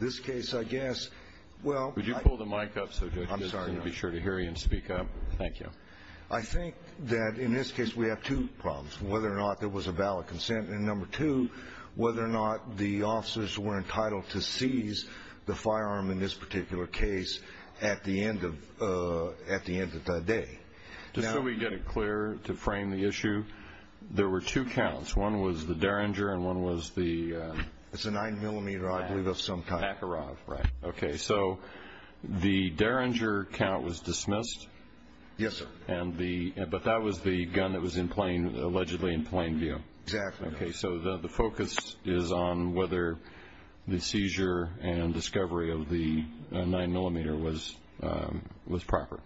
This case, I guess, well... Would you pull the mic up so the judge can be sure to hear you and speak up? Thank you. I think that in this case we have two problems, whether or not there was a ballot consent, and number two, whether or not the officers were entitled to seize the firearm in this particular case at the end of the day. Just so we get it clear, to frame the issue, there were two counts. One was the Derringer and one was the... It's a 9mm, I believe, of some kind. Makarov, right. Okay, so the Derringer count was dismissed? Yes, sir. But that was the gun that was allegedly in plain view? Exactly. Okay, so the focus is on whether the seizure and discovery of the 9mm was proper.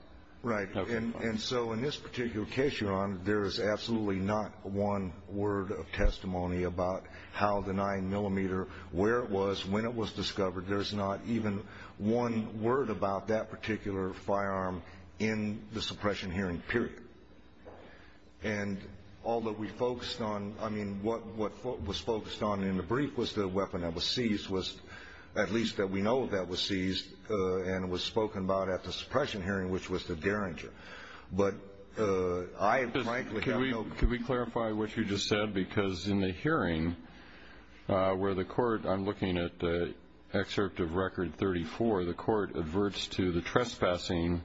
Right, and so in this particular case, Your Honor, there is absolutely not one word of testimony about how the 9mm, where it was, when it was discovered. There's not even one word about that particular firearm in the suppression hearing period. And all that we focused on, I mean, what was focused on in the brief was the weapon that was seized, at least that we know that was seized and was spoken about at the suppression hearing, which was the Derringer. But I frankly have no... Could we clarify what you just said? Because in the hearing where the court, I'm looking at the excerpt of Record 34, the court adverts to the trespassing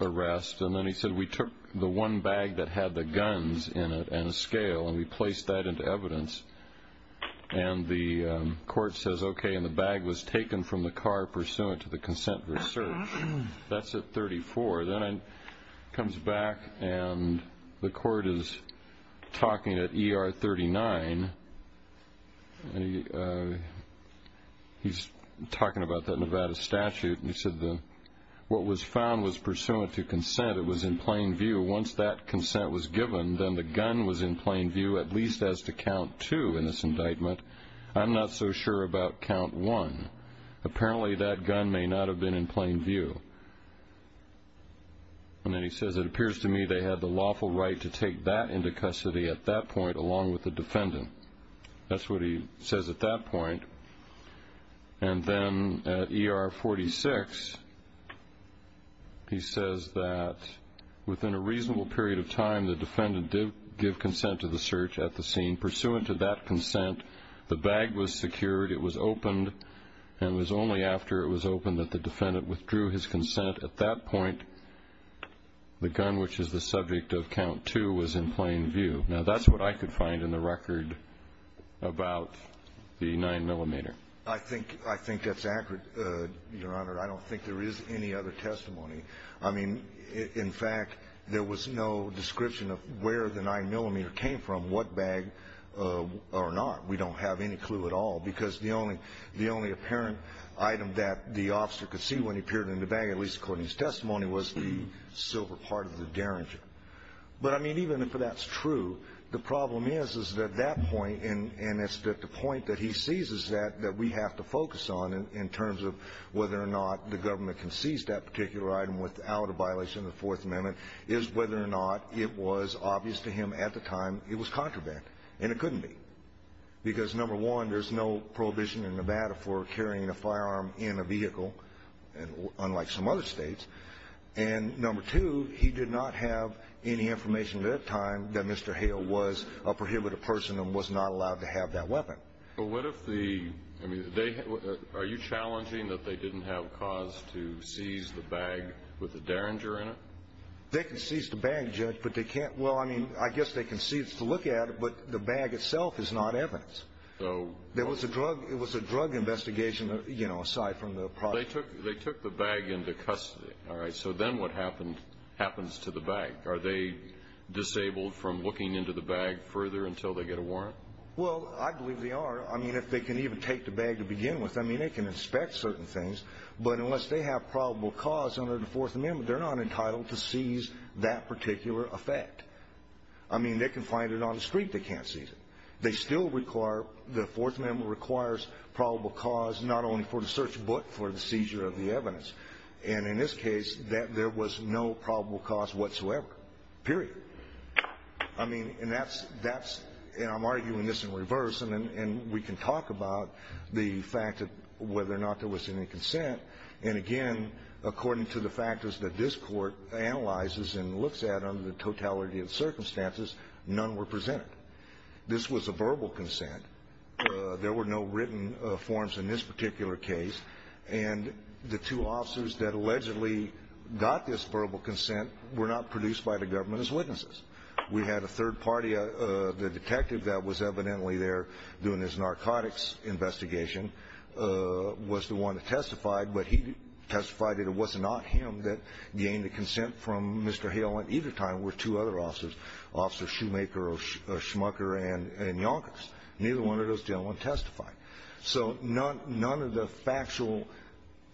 arrest, and then he said, we took the one bag that had the guns in it and a scale, and we placed that into evidence. And the court says, okay, and the bag was taken from the car pursuant to the consent of the search. That's at 34. Then it comes back, and the court is talking at ER 39, and he's talking about that Nevada statute, and he said, what was found was pursuant to consent. It was in plain view. Once that consent was given, then the gun was in plain view, at least as to count two in this indictment. I'm not so sure about count one. Apparently, that gun may not have been in plain view. And then he says, it appears to me they had the lawful right to take that into custody at that point, along with the defendant. That's what he says at that point. And then at ER 46, he says that within a reasonable period of time, the defendant did give consent to the search at the scene. Pursuant to that consent, the bag was secured, it was opened, and it was only after it was opened that the defendant withdrew his consent. At that point, the gun, which is the subject of count two, was in plain view. Now, that's what I could find in the record about the 9-millimeter. I think that's accurate, Your Honor. I don't think there is any other testimony. I mean, in fact, there was no description of where the 9-millimeter came from, what bag or not. We don't have any clue at all because the only apparent item that the officer could see when he appeared in the bag, at least according to his testimony, was the silver part of the derringer. But, I mean, even if that's true, the problem is, is that at that point, and it's at the point that he seizes that that we have to focus on in terms of whether or not the government can seize that particular item without a violation of the Fourth Amendment, is whether or not it was obvious to him at the time it was contraband, and it couldn't be. Because, number one, there's no prohibition in Nevada for carrying a firearm in a vehicle, unlike some other States. And, number two, he did not have any information at that time that Mr. Hale was a prohibited person and was not allowed to have that weapon. But what if the, I mean, are you challenging that they didn't have cause to seize the bag with the derringer in it? They can seize the bag, Judge, but they can't, well, I mean, I guess they can seize to look at it, but the bag itself is not evidence. There was a drug investigation, you know, aside from the project. Well, they took the bag into custody, all right? So then what happens to the bag? Are they disabled from looking into the bag further until they get a warrant? Well, I believe they are. I mean, if they can even take the bag to begin with, I mean, they can inspect certain things, but unless they have probable cause under the Fourth Amendment, they're not entitled to seize that particular effect. I mean, they can find it on the street. They can't seize it. They still require, the Fourth Amendment requires probable cause not only for the search, but for the seizure of the evidence. And in this case, there was no probable cause whatsoever, period. I mean, and that's, and I'm arguing this in reverse, and we can talk about the fact of whether or not there was any consent. And again, according to the factors that this Court analyzes and looks at under the totality of circumstances, none were presented. This was a verbal consent. There were no written forms in this particular case, and the two officers that allegedly got this verbal consent were not produced by the government as witnesses. We had a third party, the detective that was evidently there doing this narcotics investigation, was the one that testified, but he testified that it was not him that gained the consent from Mr. Hale, and either time were two other officers, Officer Shoemaker or Schmucker and Yonkers. Neither one of those gentlemen testified. So none of the factual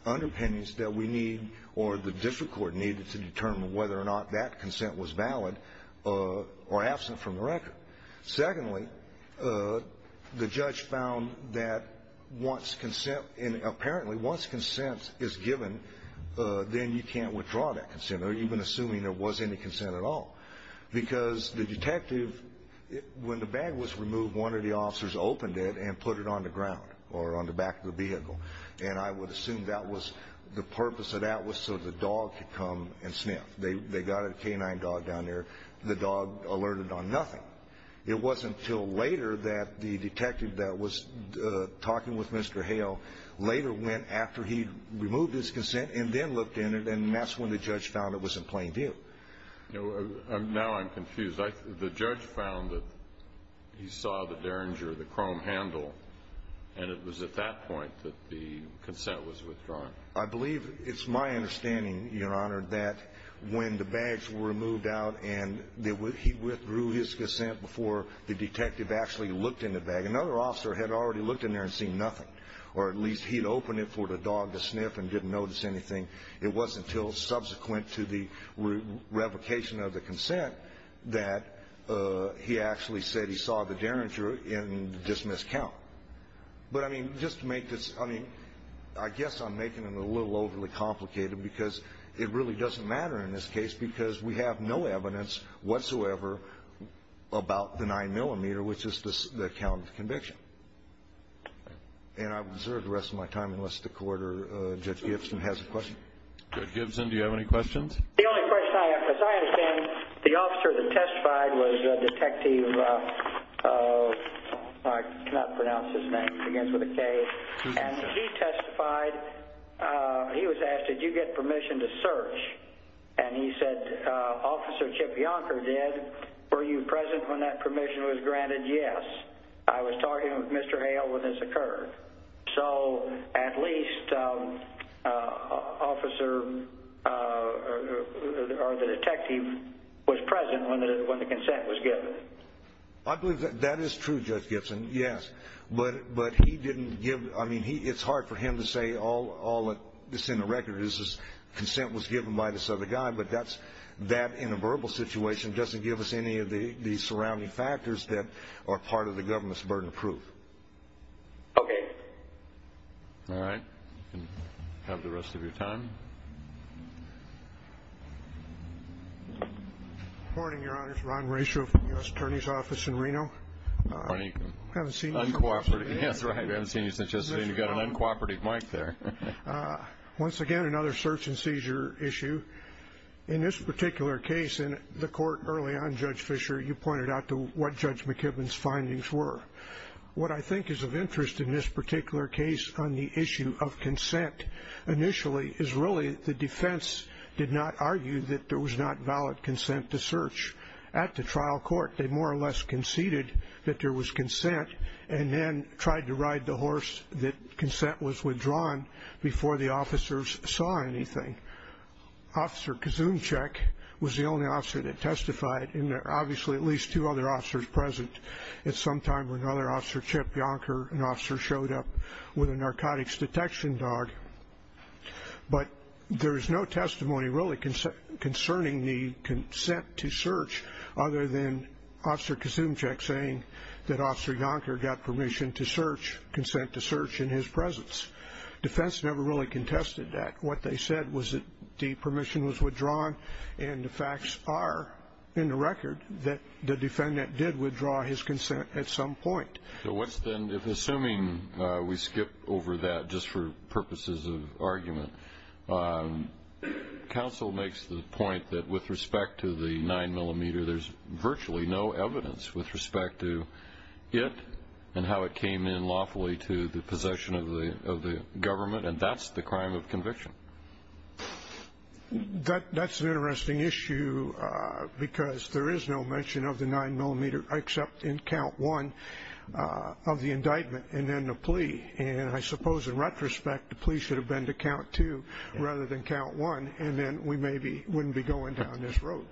underpinnings that we need or the district court needed to determine whether or not that consent was valid or absent from the record. Secondly, the judge found that once consent, and apparently once consent is given, then you can't withdraw that consent, or even assuming there was any consent at all. Because the detective, when the bag was removed, one of the officers opened it and put it on the ground or on the back of the vehicle, and I would assume that was the purpose of that was so the dog could come and sniff. They got a canine dog down there. The dog alerted on nothing. It wasn't until later that the detective that was talking with Mr. Hale later went after he'd removed his consent and then looked in it, and that's when the judge found it was in plain view. Now I'm confused. The judge found that he saw the Derringer, the chrome handle, and it was at that point that the consent was withdrawn. I believe it's my understanding, Your Honor, that when the bags were removed out and he withdrew his consent before the detective actually looked in the bag, another officer had already looked in there and seen nothing, or at least he'd opened it for the dog to sniff and didn't notice anything. It wasn't until subsequent to the revocation of the consent that he actually said he saw the Derringer and dismissed count. But, I mean, just to make this, I mean, I guess I'm making it a little overly complicated because it really doesn't matter in this case because we have no evidence whatsoever about the 9-millimeter, which is the count of conviction. And I would reserve the rest of my time unless the court or Judge Gibson has a question. Judge Gibson, do you have any questions? The only question I have, as I understand, the officer that testified was Detective, I cannot pronounce his name, he begins with a K, and he testified. He was asked, did you get permission to search? And he said, Officer Chip Yonker did. Were you present when that permission was granted? Yes. I was talking with Mr. Hale when this occurred. So at least Officer or the Detective was present when the consent was given. I believe that is true, Judge Gibson, yes. But he didn't give, I mean, it's hard for him to say all that's in the record is his consent was given by this other guy. But that, in a verbal situation, doesn't give us any of the surrounding factors that are part of the government's burden of proof. Okay. All right. You can have the rest of your time. Good morning, Your Honors. Ron Rasho from the U.S. Attorney's Office in Reno. Good morning. We haven't seen you since yesterday. Uncooperative, that's right. We haven't seen you since yesterday. You've got an uncooperative mic there. Once again, another search and seizure issue. In this particular case, in the court early on, Judge Fischer, you pointed out to what Judge McKibben's findings were. What I think is of interest in this particular case on the issue of consent initially is really the defense did not argue that there was not valid consent to search. At the trial court, they more or less conceded that there was consent and then tried to ride the horse that consent was withdrawn before the officers saw anything. Officer Kazumchik was the only officer that testified, and there are obviously at least two other officers present. At some time, another officer, Chip Yonker, an officer, showed up with a narcotics detection dog. But there is no testimony really concerning the consent to search, other than Officer Kazumchik saying that Officer Yonker got permission to search, consent to search, in his presence. Defense never really contested that. What they said was that the permission was withdrawn, and the facts are in the record that the defendant did withdraw his consent at some point. Counsel makes the point that with respect to the 9-millimeter, there's virtually no evidence with respect to it and how it came in lawfully to the possession of the government, and that's the crime of conviction. That's an interesting issue because there is no mention of the 9-millimeter except in count one of the indictment and then the plea. And I suppose in retrospect, the plea should have been to count two rather than count one, and then we maybe wouldn't be going down this road.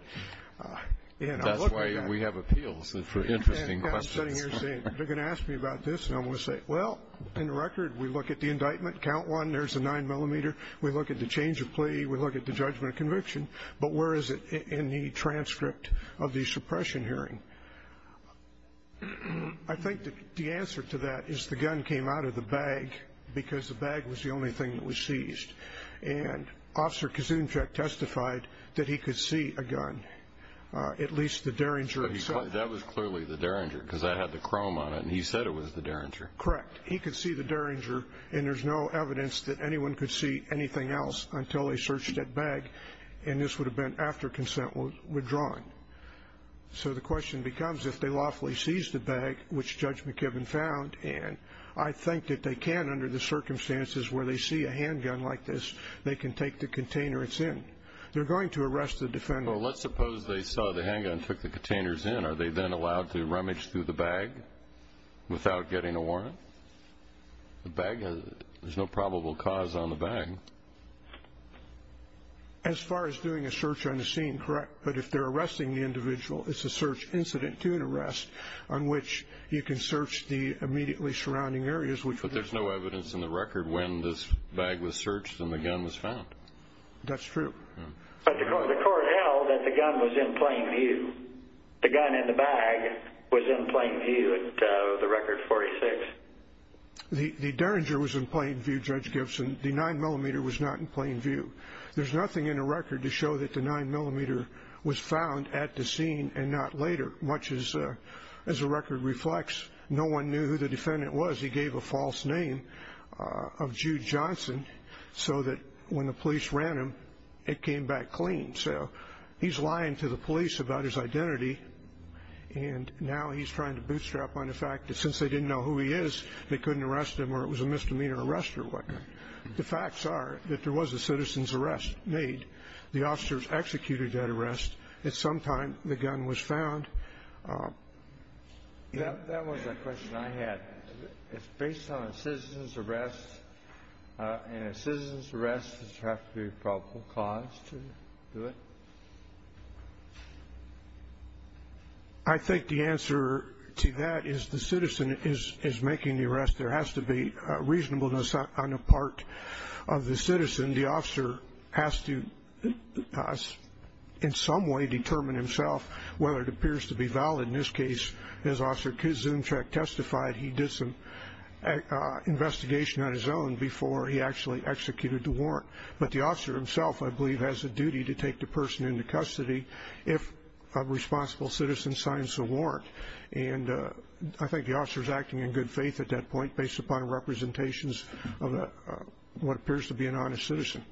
And I look at that. That's why we have appeals for interesting questions. And I'm sitting here saying, they're going to ask me about this, and I'm going to say, well, in the record, we look at the indictment, count one, there's the 9-millimeter. We look at the change of plea. We look at the judgment of conviction. But where is it in the transcript of the suppression hearing? I think the answer to that is the gun came out of the bag because the bag was the only thing that was seized. And Officer Kuzuncic testified that he could see a gun, at least the Derringer itself. That was clearly the Derringer because that had the chrome on it, and he said it was the Derringer. Correct. He could see the Derringer, and there's no evidence that anyone could see anything else until they searched that bag, and this would have been after consent was withdrawn. So the question becomes, if they lawfully seized the bag, which Judge McKibben found, and I think that they can under the circumstances where they see a handgun like this, they can take the container it's in. They're going to arrest the defendant. Well, let's suppose they saw the handgun, took the containers in. Are they then allowed to rummage through the bag without getting a warrant? The bag has no probable cause on the bag. As far as doing a search on the scene, correct. But if they're arresting the individual, it's a search incident to an arrest on which you can search the immediately surrounding areas. But there's no evidence in the record when this bag was searched and the gun was found. That's true. But the court held that the gun was in plain view. The gun in the bag was in plain view at the record 46. The Derringer was in plain view, Judge Gibson. The 9mm was not in plain view. There's nothing in the record to show that the 9mm was found at the scene and not later. As the record reflects, no one knew who the defendant was. He gave a false name of Jude Johnson so that when the police ran him, it came back clean. So he's lying to the police about his identity, and now he's trying to bootstrap on the fact that since they didn't know who he is, they couldn't arrest him or it was a misdemeanor arrest or whatnot. The facts are that there was a citizen's arrest made. The officers executed that arrest. At some time, the gun was found. That was a question I had. It's based on a citizen's arrest, and a citizen's arrest does it have to be a probable cause to do it? There has to be reasonableness on the part of the citizen. The officer has to in some way determine himself whether it appears to be valid. In this case, as Officer Kuzumchak testified, he did some investigation on his own before he actually executed the warrant. But the officer himself, I believe, has a duty to take the person into custody if a responsible citizen signs the warrant. I think the officer is acting in good faith at that point based upon representations of what appears to be an honest citizen.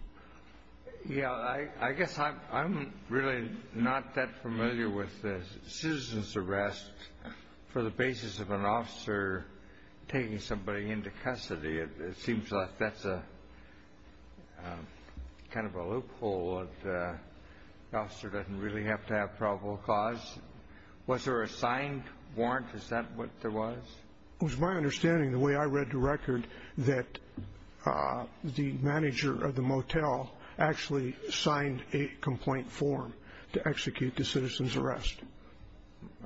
I guess I'm really not that familiar with a citizen's arrest for the basis of an officer taking somebody into custody. It seems like that's kind of a loophole. The officer doesn't really have to have probable cause. Was there a signed warrant? Is that what there was? It was my understanding, the way I read the record, that the manager of the motel actually signed a complaint form to execute the citizen's arrest.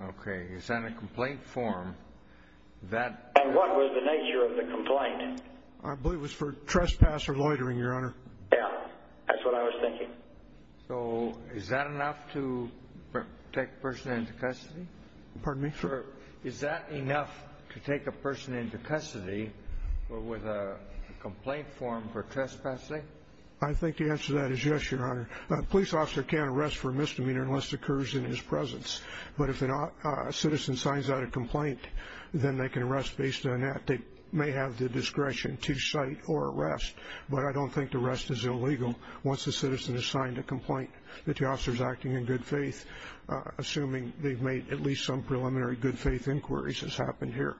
Okay. Is that a complaint form? And what was the nature of the complaint? I believe it was for trespasser loitering, Your Honor. Yeah, that's what I was thinking. So is that enough to take a person into custody? Pardon me? Is that enough to take a person into custody with a complaint form for trespassing? I think the answer to that is yes, Your Honor. A police officer can't arrest for a misdemeanor unless it occurs in his presence. But if a citizen signs out a complaint, then they can arrest based on that. They may have the discretion to cite or arrest, but I don't think the arrest is illegal once the citizen has signed a complaint, that the officer is acting in good faith, assuming they've made at least some preliminary good faith inquiries, as happened here.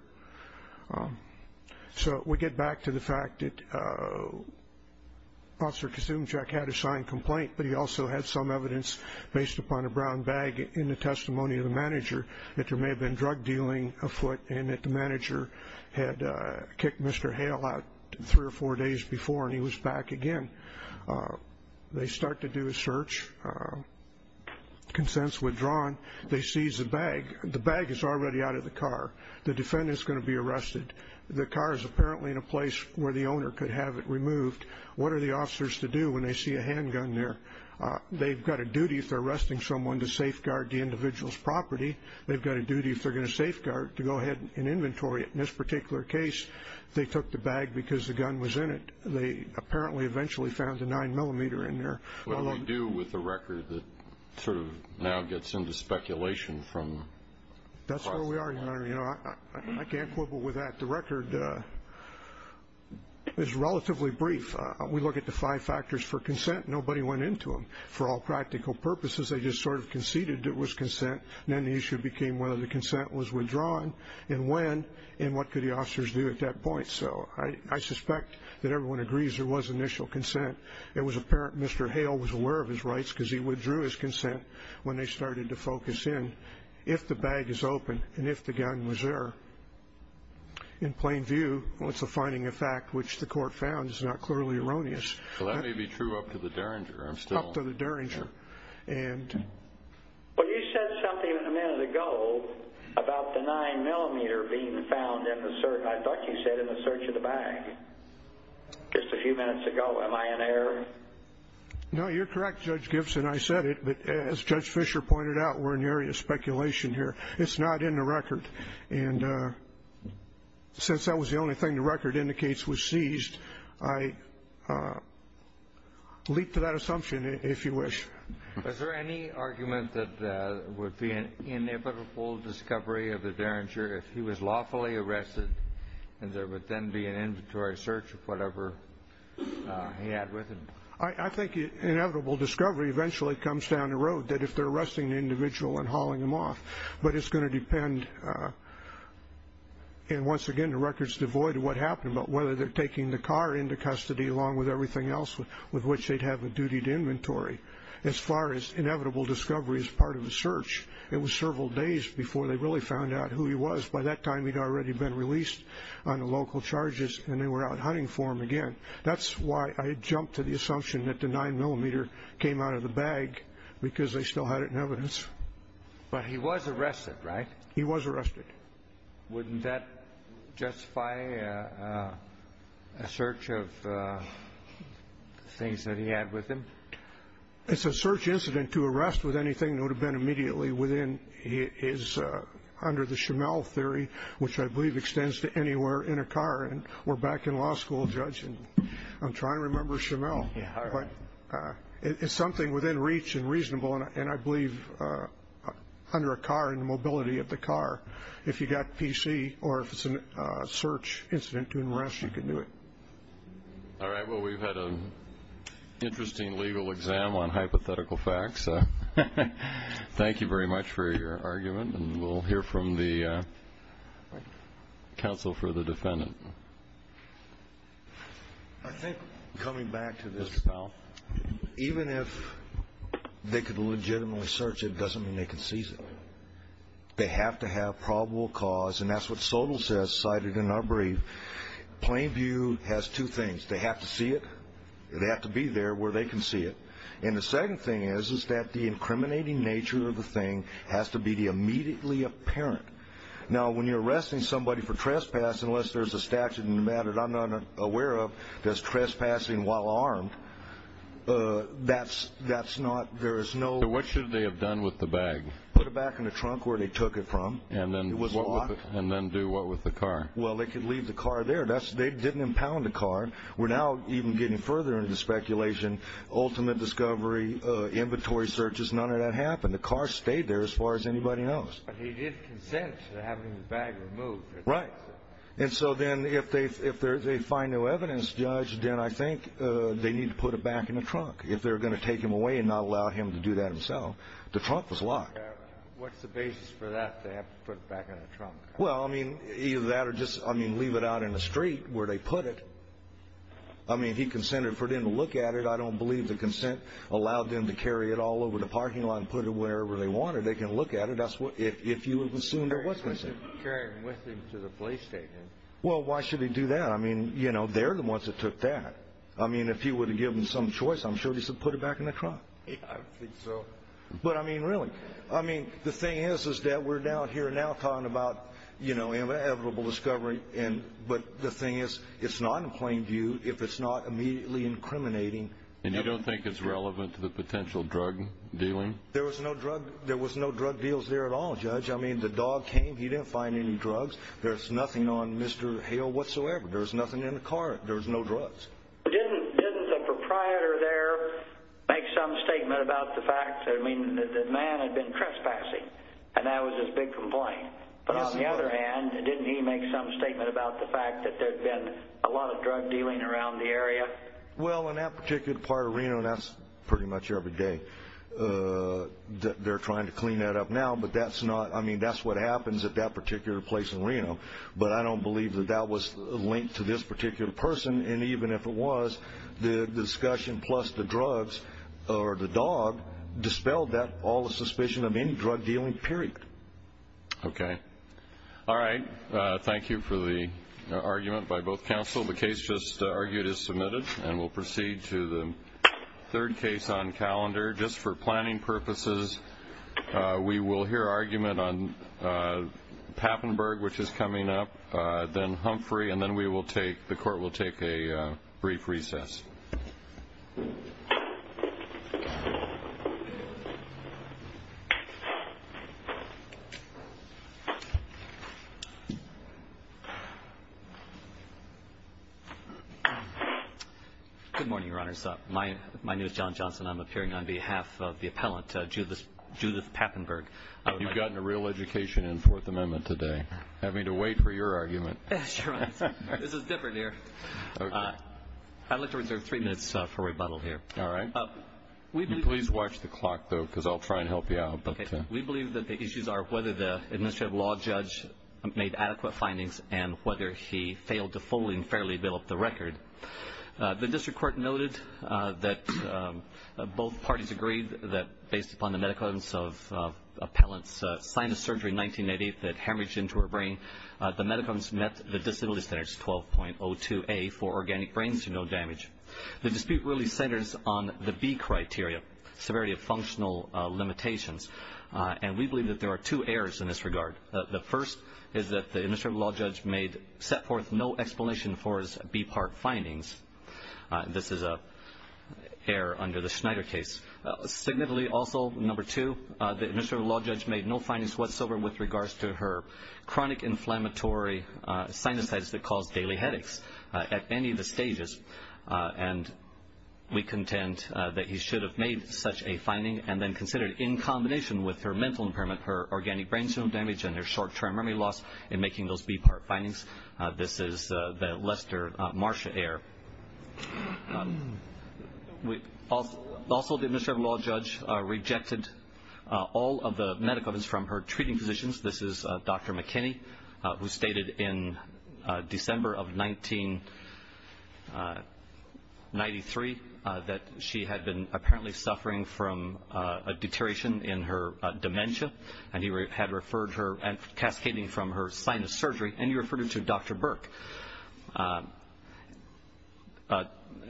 So we get back to the fact that Officer Kucinichek had a signed complaint, but he also had some evidence based upon a brown bag in the testimony of the manager that there may have been drug dealing afoot and that the manager had kicked Mr. Hale out three or four days before and he was back again. They start to do a search, consents withdrawn. They seize the bag. The bag is already out of the car. The defendant is going to be arrested. The car is apparently in a place where the owner could have it removed. What are the officers to do when they see a handgun there? They've got a duty if they're arresting someone to safeguard the individual's property. They've got a duty, if they're going to safeguard, to go ahead and inventory it. In this particular case, they took the bag because the gun was in it. They apparently eventually found the 9mm in there. What do they do with the record that sort of now gets into speculation? That's where we are. I can't quibble with that. The record is relatively brief. We look at the five factors for consent. Nobody went into them. For all practical purposes, they just sort of conceded it was consent, and then the issue became whether the consent was withdrawn and when, and what could the officers do at that point. So I suspect that everyone agrees there was initial consent. It was apparent Mr. Hale was aware of his rights because he withdrew his consent when they started to focus in. If the bag is open and if the gun was there, in plain view, it's a finding of fact which the court found is not clearly erroneous. So that may be true up to the Derringer. Up to the Derringer. Well, you said something a minute ago about the 9mm being found in the search. I thought you said in the search of the bag just a few minutes ago. Am I in error? No, you're correct, Judge Gibson. I said it. But as Judge Fisher pointed out, we're in the area of speculation here. It's not in the record. And since that was the only thing the record indicates was seized, I leap to that assumption if you wish. Was there any argument that it would be an inevitable discovery of the Derringer if he was lawfully arrested and there would then be an inventory search of whatever he had with him? I think inevitable discovery eventually comes down the road, that if they're arresting the individual and hauling him off, but it's going to depend, and once again, the record's devoid of what happened, but whether they're taking the car into custody along with everything else with which they'd have a dutied inventory. As far as inevitable discovery as part of the search, it was several days before they really found out who he was. By that time, he'd already been released on the local charges and they were out hunting for him again. That's why I jumped to the assumption that the 9mm came out of the bag because they still had it in evidence. But he was arrested, right? He was arrested. Wouldn't that justify a search of things that he had with him? It's a search incident to arrest with anything that would have been immediately within his, under the Schimel theory, which I believe extends to anywhere in a car, and we're back in law school, Judge, and I'm trying to remember Schimel. Yeah, all right. But it's something within reach and reasonable, and I believe under a car and the mobility of the car, if you've got PC or if it's a search incident to arrest, you can do it. All right. Well, we've had an interesting legal exam on hypothetical facts. Thank you very much for your argument, and we'll hear from the counsel for the defendant. I think, coming back to this, pal, even if they could legitimately search it doesn't mean they can seize it. They have to have probable cause, and that's what Sotal says, cited in our brief. Plain view has two things. They have to see it. They have to be there where they can see it. And the second thing is that the incriminating nature of the thing has to be immediately apparent. Now, when you're arresting somebody for trespassing, unless there's a statute in the matter that I'm not aware of that's trespassing while armed, that's not – there is no – So what should they have done with the bag? Put it back in the trunk where they took it from. And then do what with the car? Well, they could leave the car there. They didn't impound the car. We're now even getting further into speculation, ultimate discovery, inventory searches. None of that happened. The car stayed there as far as anybody knows. But he did consent to having the bag removed. Right. And so then if they find no evidence, Judge, then I think they need to put it back in the trunk, if they're going to take him away and not allow him to do that himself. The trunk was locked. What's the basis for that, to have to put it back in the trunk? Well, I mean, either that or just, I mean, leave it out in the street where they put it. I mean, he consented for them to look at it. I don't believe the consent allowed them to carry it all over the parking lot and put it wherever they wanted. They can look at it if you assumed it was missing. Carry it with him to the police station. Well, why should he do that? I mean, you know, they're the ones that took that. I mean, if you would have given some choice, I'm sure he would have put it back in the trunk. I don't think so. But, I mean, really. I mean, the thing is, is that we're down here now talking about, you know, inevitable discovery. But the thing is, it's not in plain view if it's not immediately incriminating. And you don't think it's relevant to the potential drug dealing? There was no drug deals there at all, Judge. I mean, the dog came. He didn't find any drugs. There's nothing on Mr. Hale whatsoever. There's nothing in the car. There's no drugs. Didn't the proprietor there make some statement about the fact that, I mean, the man had been trespassing? And that was his big complaint. But on the other hand, didn't he make some statement about the fact that there had been a lot of drug dealing around the area? Well, in that particular part of Reno, that's pretty much every day. They're trying to clean that up now. But that's not, I mean, that's what happens at that particular place in Reno. But I don't believe that that was linked to this particular person. And even if it was, the discussion plus the drugs or the dog dispelled all the suspicion of any drug dealing, period. Okay. All right. Thank you for the argument by both counsel. The case just argued is submitted, and we'll proceed to the third case on calendar. Just for planning purposes, we will hear argument on Pappenberg, which is coming up, then Humphrey, and then the court will take a brief recess. Good morning, Your Honors. My name is John Johnson. I'm appearing on behalf of the appellant, Judith Pappenberg. You've gotten a real education in Fourth Amendment today, having to wait for your argument. That's right. This is different here. I'd like to reserve three minutes for rebuttal here. All right. Please watch the clock, though, because I'll try and help you out. Okay. We believe that the issues are whether the administrative law judge made adequate findings and whether he failed to fully and fairly develop the record. The district court noted that both parties agreed that based upon the medical evidence of appellant's sinus surgery in 1988 that hemorrhaged into her brain, the medicines met the disability standards 12.02A for organic brains to no damage. The dispute really centers on the B criteria, severity of functional limitations, and we believe that there are two errors in this regard. The first is that the administrative law judge set forth no explanation for his B part findings. This is an error under the Schneider case. Significantly also, number two, the administrative law judge made no findings whatsoever with regards to her chronic inflammatory sinusitis that caused daily headaches at any of the stages, and we contend that he should have made such a finding and then considered in combination with her mental impairment, her organic brains to no damage, and her short-term memory loss in making those B part findings. This is the Lester-Marsha error. Also, the administrative law judge rejected all of the medical evidence from her treating physicians. This is Dr. McKinney, who stated in December of 1993 that she had been apparently suffering from a deterioration in her dementia, and he had referred her, cascading from her sinus surgery, and he referred her to Dr. Burke.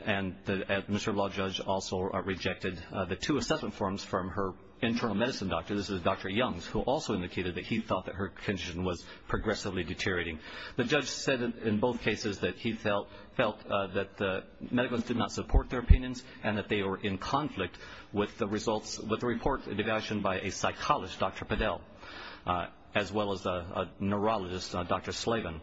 And the administrative law judge also rejected the two assessment forms from her internal medicine doctor. This is Dr. Youngs, who also indicated that he thought that her condition was progressively deteriorating. The judge said in both cases that he felt that the medicals did not support their opinions and that they were in conflict with the report devised by a psychologist, Dr. Padel, as well as a neurologist, Dr. Slavin.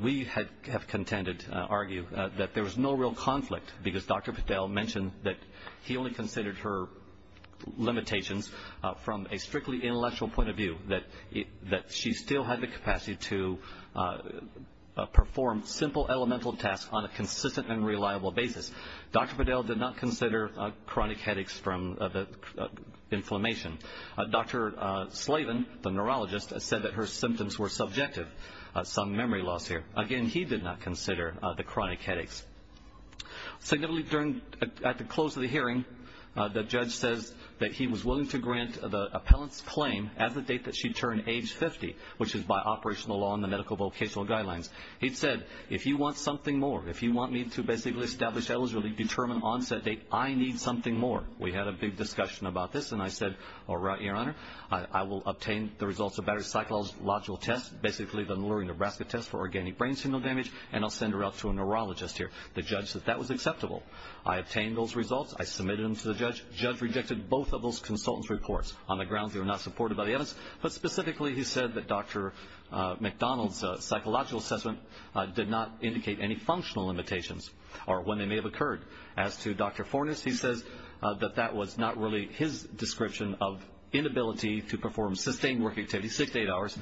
We have contended, argue, that there was no real conflict because Dr. Padel mentioned that he only considered her limitations from a strictly intellectual point of view, that she still had the capacity to perform simple elemental tasks on a consistent and reliable basis. Dr. Padel did not consider chronic headaches from the inflammation. Dr. Slavin, the neurologist, said that her symptoms were subjective. Some memory loss here. Again, he did not consider the chronic headaches. Significantly, at the close of the hearing, the judge says that he was willing to grant the appellant's claim at the date that she turned age 50, which is by operational law and the medical vocational guidelines. He said, if you want something more, if you want me to basically establish eligibility, determine onset date, I need something more. We had a big discussion about this, and I said, all right, Your Honor. I will obtain the results of battery psychological tests, basically the Lurie, Nebraska test for organic brain signal damage, and I'll send her out to a neurologist here. The judge said that was acceptable. I obtained those results. I submitted them to the judge. The judge rejected both of those consultants' reports on the grounds they were not supported by the evidence. But specifically, he said that Dr. McDonald's psychological assessment did not indicate any functional limitations or when they may have occurred. As to Dr. Fornes, he says that that was not really his description of inability to perform sustained work activity, six to eight hours,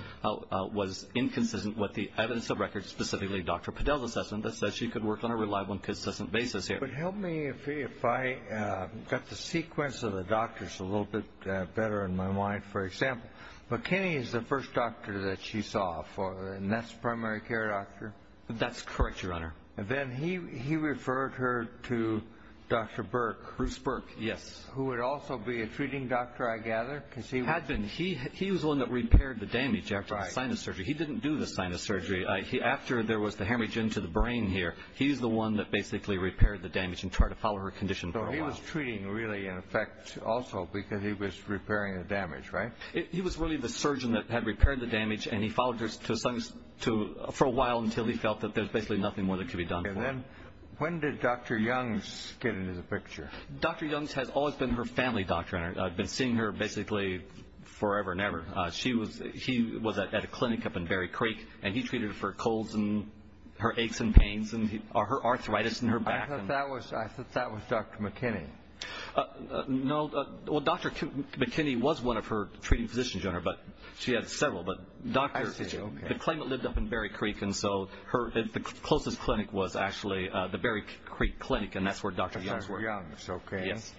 was inconsistent with the evidence of record, specifically Dr. Padel's assessment, that says she could work on a reliable and consistent basis here. But help me if I got the sequence of the doctors a little bit better in my mind, for example. McKinney is the first doctor that she saw, and that's primary care doctor? That's correct, Your Honor. And then he referred her to Dr. Burke. Bruce Burke, yes. Who would also be a treating doctor, I gather? Had been. He was the one that repaired the damage after the sinus surgery. He didn't do the sinus surgery. After there was the hemorrhage into the brain here, he's the one that basically repaired the damage and tried to follow her condition for a while. So he was treating really, in effect, also because he was repairing the damage, right? He was really the surgeon that had repaired the damage, and he followed her to a sinus for a while until he felt that there was basically nothing more that could be done. And then when did Dr. Youngs get into the picture? Dr. Youngs has always been her family doctor, and I've been seeing her basically forever and ever. She was at a clinic up in Berry Creek, and he treated for colds and her aches and pains and her arthritis in her back. I thought that was Dr. McKinney. No. Well, Dr. McKinney was one of her treating physicians. She had several, but the clinic lived up in Berry Creek, and so the closest clinic was actually the Berry Creek Clinic, and that's where Dr. Youngs worked. Dr. Youngs, okay. Yes.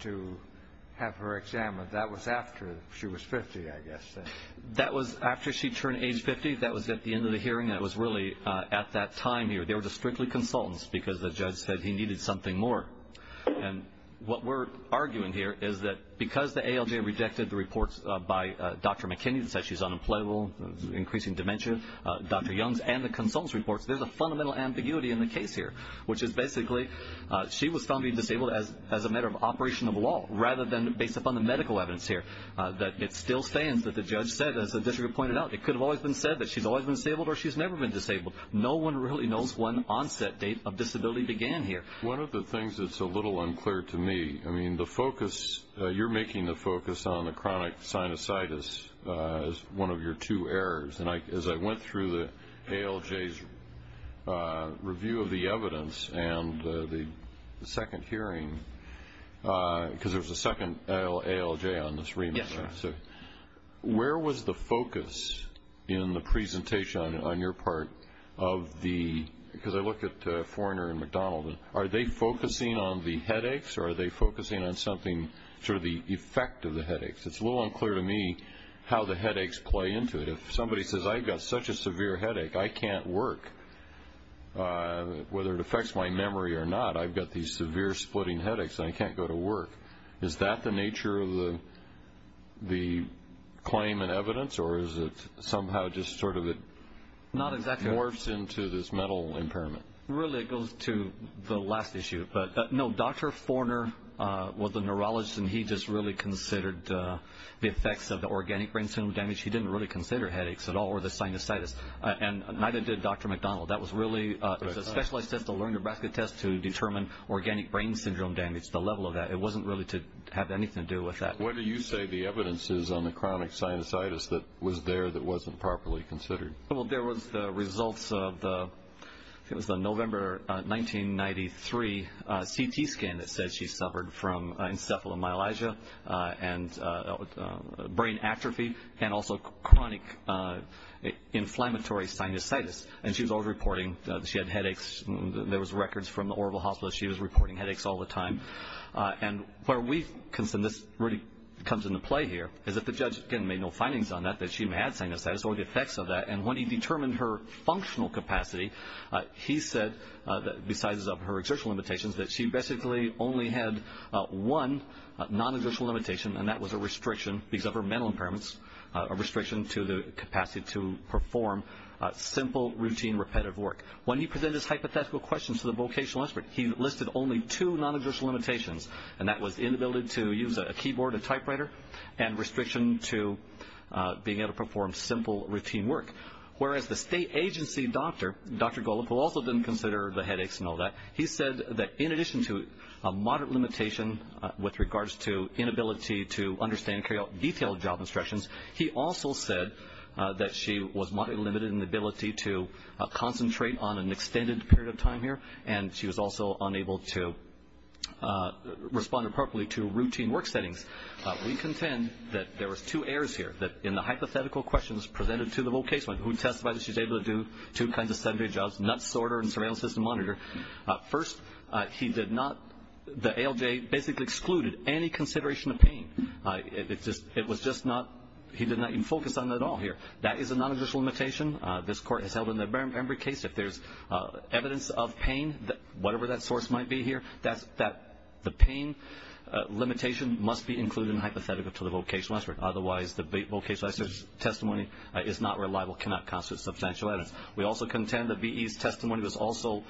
to have her examined. That was after she was 50, I guess, then. That was after she turned age 50. That was at the end of the hearing, and it was really at that time here. They were just strictly consultants because the judge said he needed something more. And what we're arguing here is that because the ALJ rejected the reports by Dr. McKinney that said she's unemployable, increasing dementia, Dr. Youngs, and the consultants' reports, there's a fundamental ambiguity in the case here, which is basically she was found to be disabled as a matter of operation of law rather than based upon the medical evidence here. It still stands that the judge said, as the district pointed out, it could have always been said that she's always been disabled or she's never been disabled. No one really knows when the onset date of disability began here. One of the things that's a little unclear to me, I mean, the focus, you're making the focus on the chronic sinusitis as one of your two errors. And as I went through the ALJ's review of the evidence and the second hearing, because there was a second ALJ on this remand, right? Yes, sir. Where was the focus in the presentation on your part of the because I look at Forerner and McDonald, are they focusing on the headaches or are they focusing on something, sort of the effect of the headaches? It's a little unclear to me how the headaches play into it. If somebody says, I've got such a severe headache, I can't work, whether it affects my memory or not, I've got these severe splitting headaches, and I can't go to work. Is that the nature of the claim and evidence, or is it somehow just sort of morphs into this mental impairment? Really, it goes to the last issue. No, Dr. Forerner was a neurologist, and he just really considered the effects of the organic brain syndrome damage. He didn't really consider headaches at all or the sinusitis, and neither did Dr. McDonald. That was really a specialized test, a Lerner-Braskett test, to determine organic brain syndrome damage, the level of that. It wasn't really to have anything to do with that. What do you say the evidence is on the chronic sinusitis that was there that wasn't properly considered? Well, there was the results of the November 1993 CT scan that said she suffered from encephalomyelagia and brain atrophy and also chronic inflammatory sinusitis. And she was always reporting that she had headaches. There was records from the Orville Hospital that she was reporting headaches all the time. And where we consider this really comes into play here is that the judge, again, made no findings on that, that she had sinusitis or the effects of that. And when he determined her functional capacity, he said, besides her exertional limitations, that she basically only had one non-exertional limitation, and that was a restriction because of her mental impairments, a restriction to the capacity to perform simple, routine, repetitive work. When he presented his hypothetical questions to the vocational expert, he listed only two non-exertional limitations, and that was inability to use a keyboard, a typewriter, and restriction to being able to perform simple, routine work. Whereas the state agency doctor, Dr. Golop, who also didn't consider the headaches and all that, he said that in addition to a moderate limitation with regards to inability to understand detailed job instructions, he also said that she was moderately limited in the ability to concentrate on an extended period of time here, and she was also unable to respond appropriately to routine work settings. We contend that there was two errors here, that in the hypothetical questions presented to the vocational expert, who testified that she was able to do two kinds of seven-day jobs, not sorter and surveillance system monitor. First, he did not, the ALJ basically excluded any consideration of pain. It was just not, he did not even focus on that at all here. That is a non-exertional limitation. This court has held in every case if there's evidence of pain, whatever that source might be here, that the pain limitation must be included in the hypothetical to the vocational expert. Otherwise, the vocational expert's testimony is not reliable, cannot constitute substantial evidence. We also contend that V.E.'s testimony was also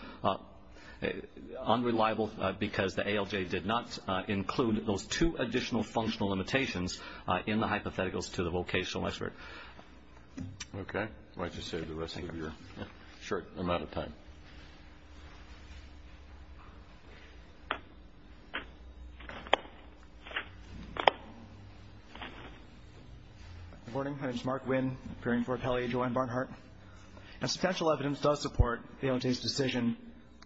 unreliable because the ALJ did not include those two additional functional limitations in the hypotheticals to the vocational expert. Okay. Why don't you save the rest of your short amount of time. Good morning. My name is Mark Winn, appearing before Kelly and Joanne Barnhart. Substantial evidence does support the ALJ's decision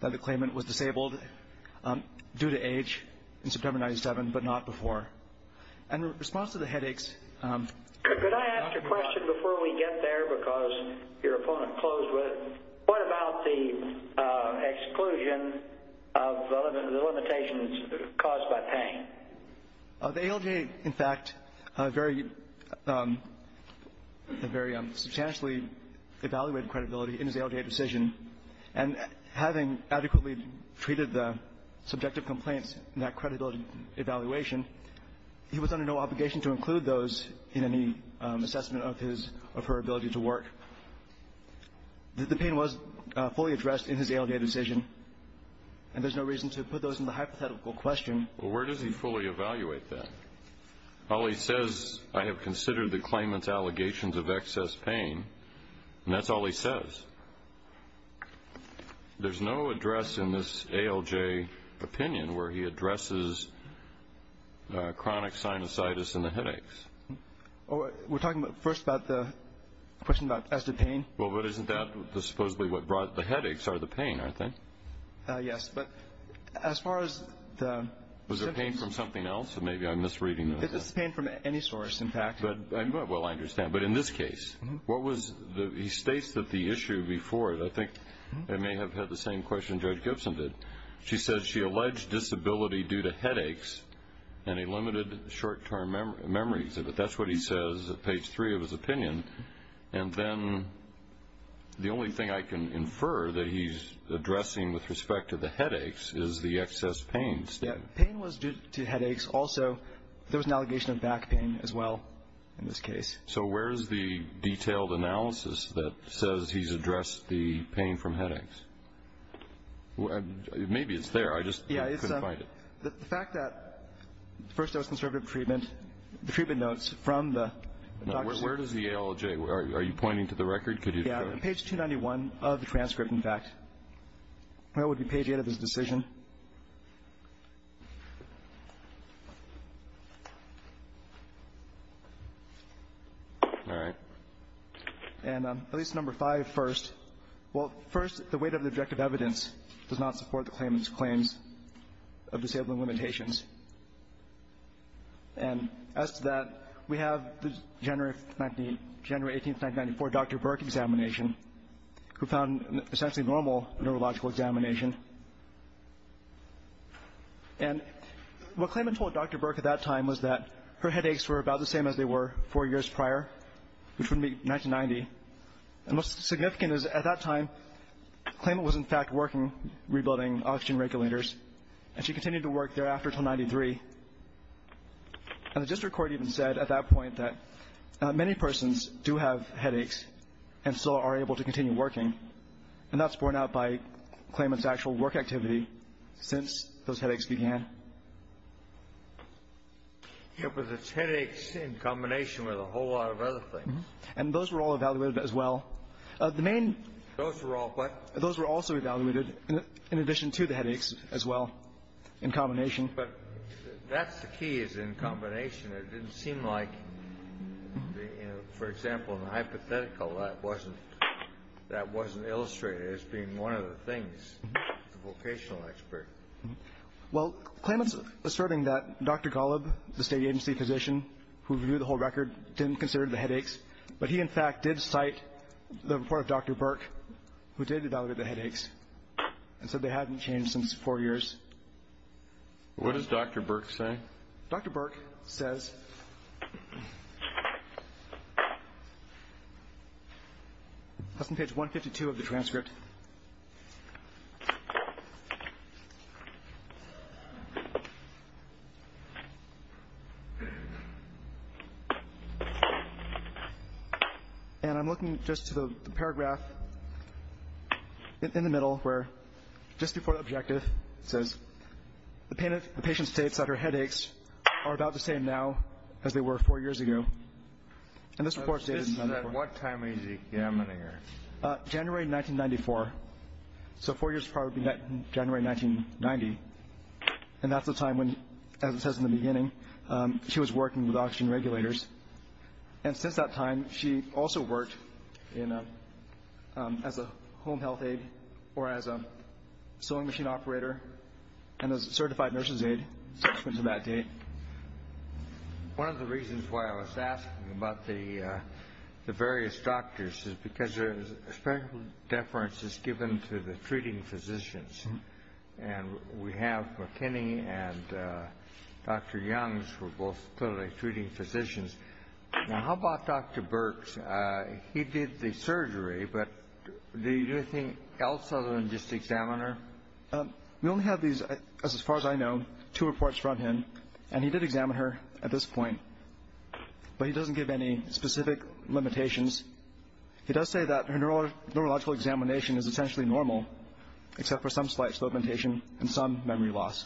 that the claimant was disabled due to age in September 1997, but not before. In response to the headaches... Could I ask a question before we get there because your opponent closed with it? What about the exclusion of the limitations caused by pain? The ALJ, in fact, very substantially evaluated credibility in his ALJ decision, and having adequately treated the subjective complaints in that credibility evaluation, he was under no obligation to include those in any assessment of his or her ability to work. The pain was fully addressed in his ALJ decision, and there's no reason to put those in the hypothetical question. Well, where does he fully evaluate that? All he says, I have considered the claimant's allegations of excess pain, and that's all he says. There's no address in this ALJ opinion where he addresses chronic sinusitis and the headaches. We're talking first about the question about excessive pain. Well, but isn't that supposedly what brought the headaches are the pain, aren't they? Yes, but as far as the symptoms... Was there pain from something else, or maybe I'm misreading this? It's pain from any source, in fact. Well, I understand. But in this case, he states that the issue before it, I think I may have had the same question Judge Gibson did. She says she alleged disability due to headaches and a limited short-term memory. That's what he says at page 3 of his opinion. And then the only thing I can infer that he's addressing with respect to the headaches is the excess pain. Pain was due to headaches. Also, there was an allegation of back pain as well in this case. So where is the detailed analysis that says he's addressed the pain from headaches? Maybe it's there. I just couldn't find it. Yeah, it's the fact that the first dose of conservative treatment, the treatment notes from the... Now, where does the ALJ, are you pointing to the record? Could you... Yeah, page 291 of the transcript, in fact. That would be page 8 of his decision. All right. And at least number 5 first. Well, first, the weight of the objective evidence does not support the claimant's claims of disabling limitations. And as to that, we have the January 18, 1994, Dr. Burke examination, who found essentially normal neurological examination. And what claimant told Dr. Burke at that time was that her headaches were about the same as they were four years prior, which would be 1990. And what's significant is at that time, claimant was, in fact, working rebuilding oxygen regulators, and she continued to work thereafter until 1993. And the district court even said at that point that many persons do have headaches and still are able to continue working. And that's borne out by claimant's actual work activity since those headaches began. Yeah, but it's headaches in combination with a whole lot of other things. And those were all evaluated as well. The main — Those were all what? Those were also evaluated in addition to the headaches as well, in combination. But that's the key, is in combination. It didn't seem like, you know, for example, in the hypothetical, that wasn't illustrated as being one of the things, the vocational expert. Well, claimant's asserting that Dr. Golub, the State agency physician who reviewed the whole record, didn't consider the headaches, but he, in fact, did cite the report of Dr. Burke, who did evaluate the headaches, and said they hadn't changed since four years. What does Dr. Burke say? Well, Dr. Burke says — that's on page 152 of the transcript. And I'm looking just to the paragraph in the middle where, just before the objective, it says, the patient states that her headaches are about the same now as they were four years ago. And this report states — At what time is he examining her? January 1994. So four years prior would be January 1990. And that's the time when, as it says in the beginning, she was working with oxygen regulators. And since that time, she also worked as a home health aide or as a sewing machine operator and as a certified nurse's aide up until that date. One of the reasons why I was asking about the various doctors is because there is a special deference that's given to the treating physicians. And we have McKinney and Dr. Youngs who are both clearly treating physicians. Now, how about Dr. Burke? He did the surgery, but did he do anything else other than just examine her? We only have these, as far as I know, two reports from him. And he did examine her at this point, but he doesn't give any specific limitations. He does say that her neurological examination is essentially normal, except for some slight slow indentation and some memory loss.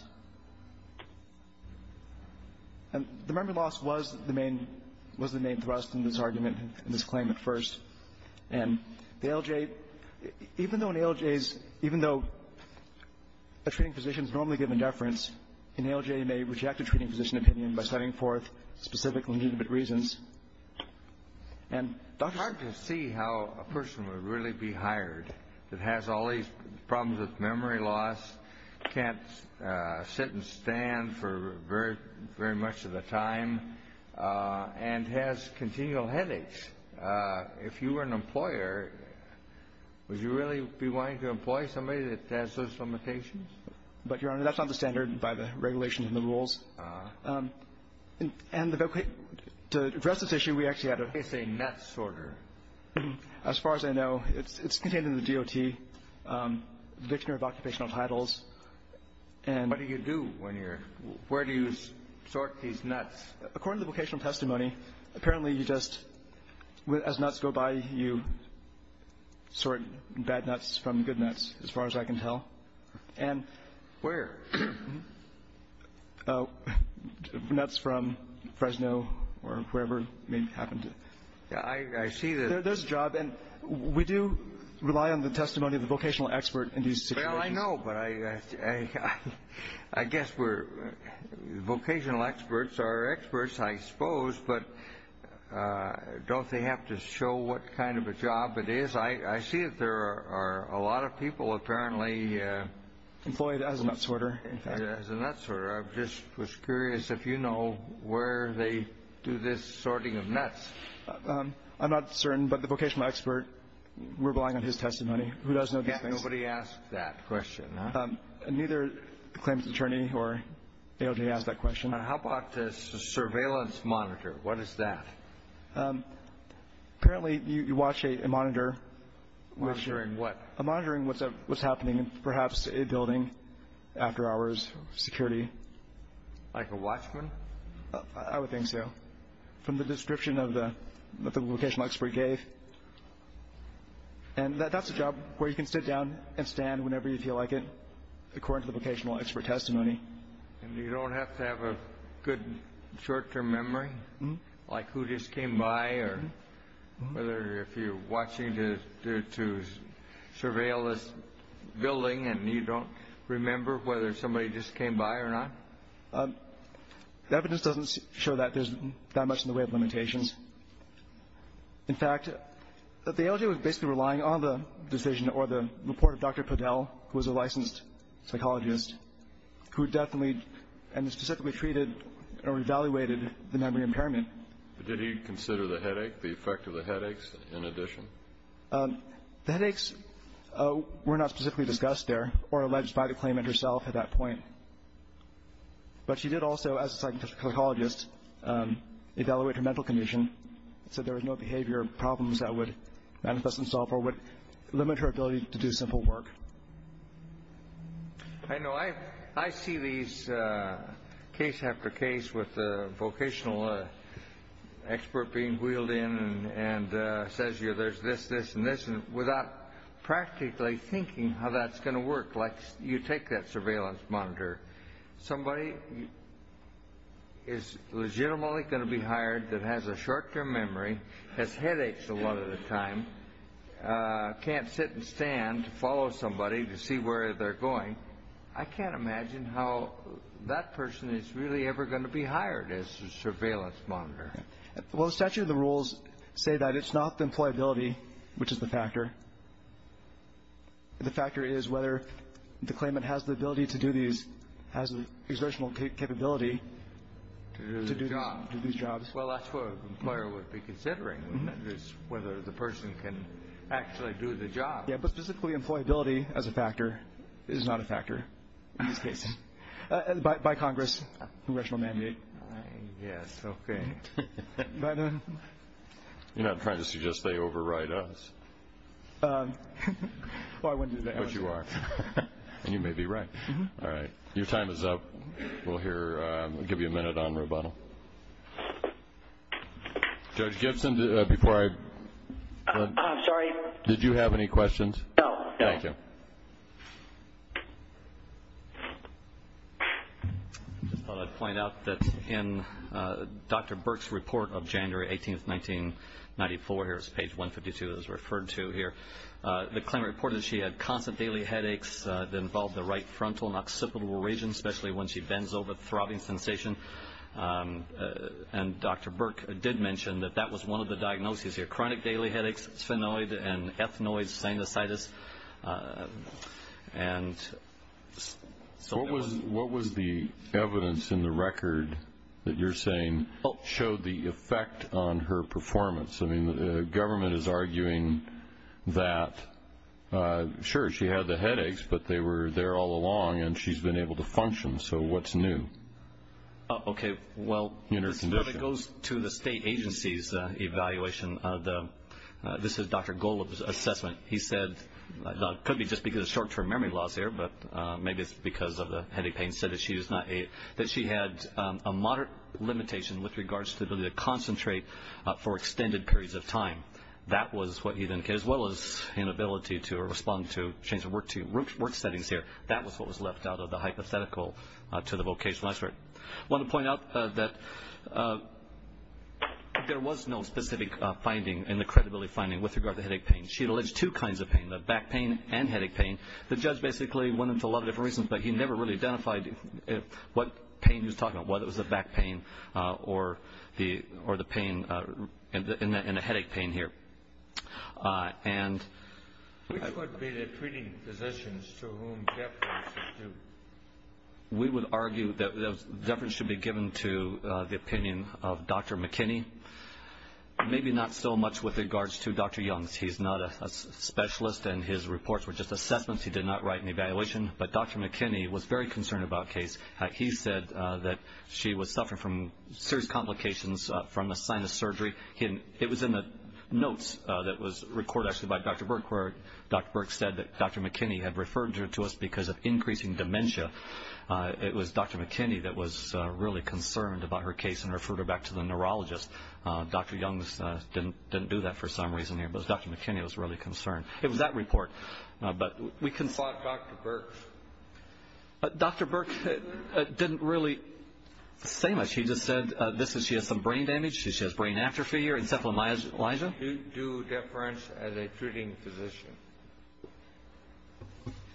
And the memory loss was the main thrust in this argument, in this claim at first. And the ALJ — even though an ALJ's — even though a treating physician is normally given deference, an ALJ may reject a treating physician opinion by citing forth specific legitimate reasons. It's hard to see how a person would really be hired that has all these problems with memory loss, can't sit and stand for very much of the time, and has continual headaches. If you were an employer, would you really be wanting to employ somebody that has those limitations? But, Your Honor, that's not the standard by the regulations and the rules. And to address this issue, we actually had a — It's a nutsorter. As far as I know, it's contained in the DOT, the dictionary of occupational titles. What do you do when you're — where do you sort these nuts? According to the vocational testimony, apparently you just — as nuts go by, you sort bad nuts from good nuts, as far as I can tell. And — Where? Nuts from Fresno or wherever may happen to — I see that. There's a job. And we do rely on the testimony of the vocational expert in these situations. Well, I know, but I guess we're — vocational experts are experts, I suppose, but don't they have to show what kind of a job it is? I see that there are a lot of people apparently — employed as a nutsorter, in fact. As a nutsorter. I just was curious if you know where they do this sorting of nuts. I'm not certain, but the vocational expert, we're relying on his testimony. Who does know these things? Nobody asked that question, huh? Neither the claims attorney or ALJ asked that question. How about the surveillance monitor? What is that? Apparently, you watch a monitor. Monitoring what? Monitoring what's happening in perhaps a building, after hours, security. Like a watchman? I would think so, from the description that the vocational expert gave. And that's a job where you can sit down and stand whenever you feel like it, according to the vocational expert testimony. And you don't have to have a good short-term memory, like who just came by, whether if you're watching to surveil this building and you don't remember whether somebody just came by or not? The evidence doesn't show that there's that much in the way of limitations. In fact, the ALJ was basically relying on the decision or the report of Dr. Podell, who was a licensed psychologist, who definitely and specifically treated or evaluated the memory impairment. Did he consider the headache, the effect of the headaches, in addition? The headaches were not specifically discussed there or alleged by the claimant herself at that point. But she did also, as a psychologist, evaluate her mental condition and said there was no behavior or problems that would manifest themselves or would limit her ability to do simple work. I know I see these case after case with the vocational expert being wheeled in and says there's this, this, and this, and without practically thinking how that's going to work, like you take that surveillance monitor, somebody is legitimately going to be hired that has a short-term memory, has headaches a lot of the time, can't sit and stand to follow somebody to see where they're going. I can't imagine how that person is really ever going to be hired as a surveillance monitor. Well, the statute of the rules say that it's not the employability, which is the factor. The factor is whether the claimant has the ability to do these, has the exertional capability to do these jobs. Well, that's what an employer would be considering, whether the person can actually do the job. Yeah, but physically employability as a factor is not a factor in this case, by Congress, congressional mandate. Yes, okay. You're not trying to suggest they overwrite us. Well, I wouldn't do that. But you are, and you may be right. All right. Your time is up. We'll give you a minute on rebuttal. Judge Gibson, before I go, did you have any questions? No, no. Thank you. I just thought I'd point out that in Dr. Burke's report of January 18, 1994, here's page 152 as referred to here, the claimant reported that she had constant daily headaches that involved the right frontal and occipital region, especially when she bends over, throbbing sensation. And Dr. Burke did mention that that was one of the diagnoses here, chronic daily headaches, sphenoid and ethnoid sinusitis. What was the evidence in the record that you're saying showed the effect on her performance? I mean, the government is arguing that, sure, she had the headaches, but they were there all along and she's been able to function. So what's new? Okay. Well, it goes to the state agency's evaluation. This is Dr. Golub's assessment. He said it could be just because it's short-term memory loss here, but maybe it's because of the headache pain. He said that she had a moderate limitation with regards to the ability to concentrate for extended periods of time. That was what he indicated, as well as inability to respond to change of work settings here. That was what was left out of the hypothetical to the vocational expert. I want to point out that there was no specific finding in the credibility finding with regard to headache pain. She had alleged two kinds of pain, the back pain and headache pain. The judge basically went into a lot of different reasons, but he never really identified what pain he was talking about, whether it was the back pain or the pain in the headache pain here. Which would be the treating physicians to whom deference is due? We would argue that deference should be given to the opinion of Dr. McKinney, maybe not so much with regards to Dr. Young's. He's not a specialist and his reports were just assessments. He did not write an evaluation. But Dr. McKinney was very concerned about the case. He said that she was suffering from serious complications from a sinus surgery. It was in the notes that was recorded, actually, by Dr. Burke, where Dr. Burke said that Dr. McKinney had referred her to us because of increasing dementia. It was Dr. McKinney that was really concerned about her case and referred her back to the neurologist. Dr. Young didn't do that for some reason here, but Dr. McKinney was really concerned. It was that report. We consult Dr. Burke. Dr. Burke didn't really say much. He just said she has some brain damage, she has brain atrophy or encephalomyelitis. Do deference as a treating physician?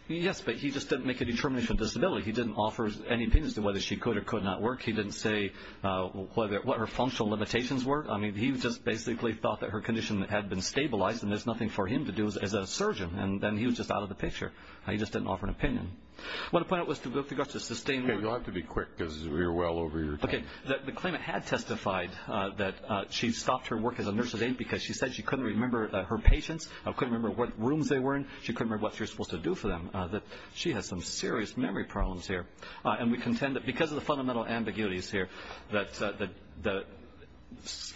Yes, but he just didn't make a determination of disability. He didn't offer any opinions as to whether she could or could not work. He didn't say what her functional limitations were. I mean, he just basically thought that her condition had been stabilized and there's nothing for him to do as a surgeon, and then he was just out of the picture. He just didn't offer an opinion. What I want to point out with regards to sustained memory. You'll have to be quick because we're well over your time. Okay. The claimant had testified that she stopped her work as a nurse's aide because she said she couldn't remember her patients, couldn't remember what rooms they were in, she couldn't remember what she was supposed to do for them. She has some serious memory problems here. And we contend that because of the fundamental ambiguities here, that the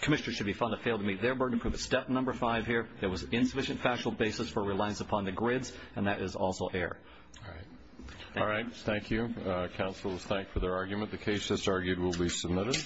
commissioner should be found to have failed to meet their burden of proof. Step number five here, there was insufficient factual basis for reliance upon the grids, and that is also error. Thank you. All right, thank you. Counsel is thanked for their argument. The case that's argued will be submitted.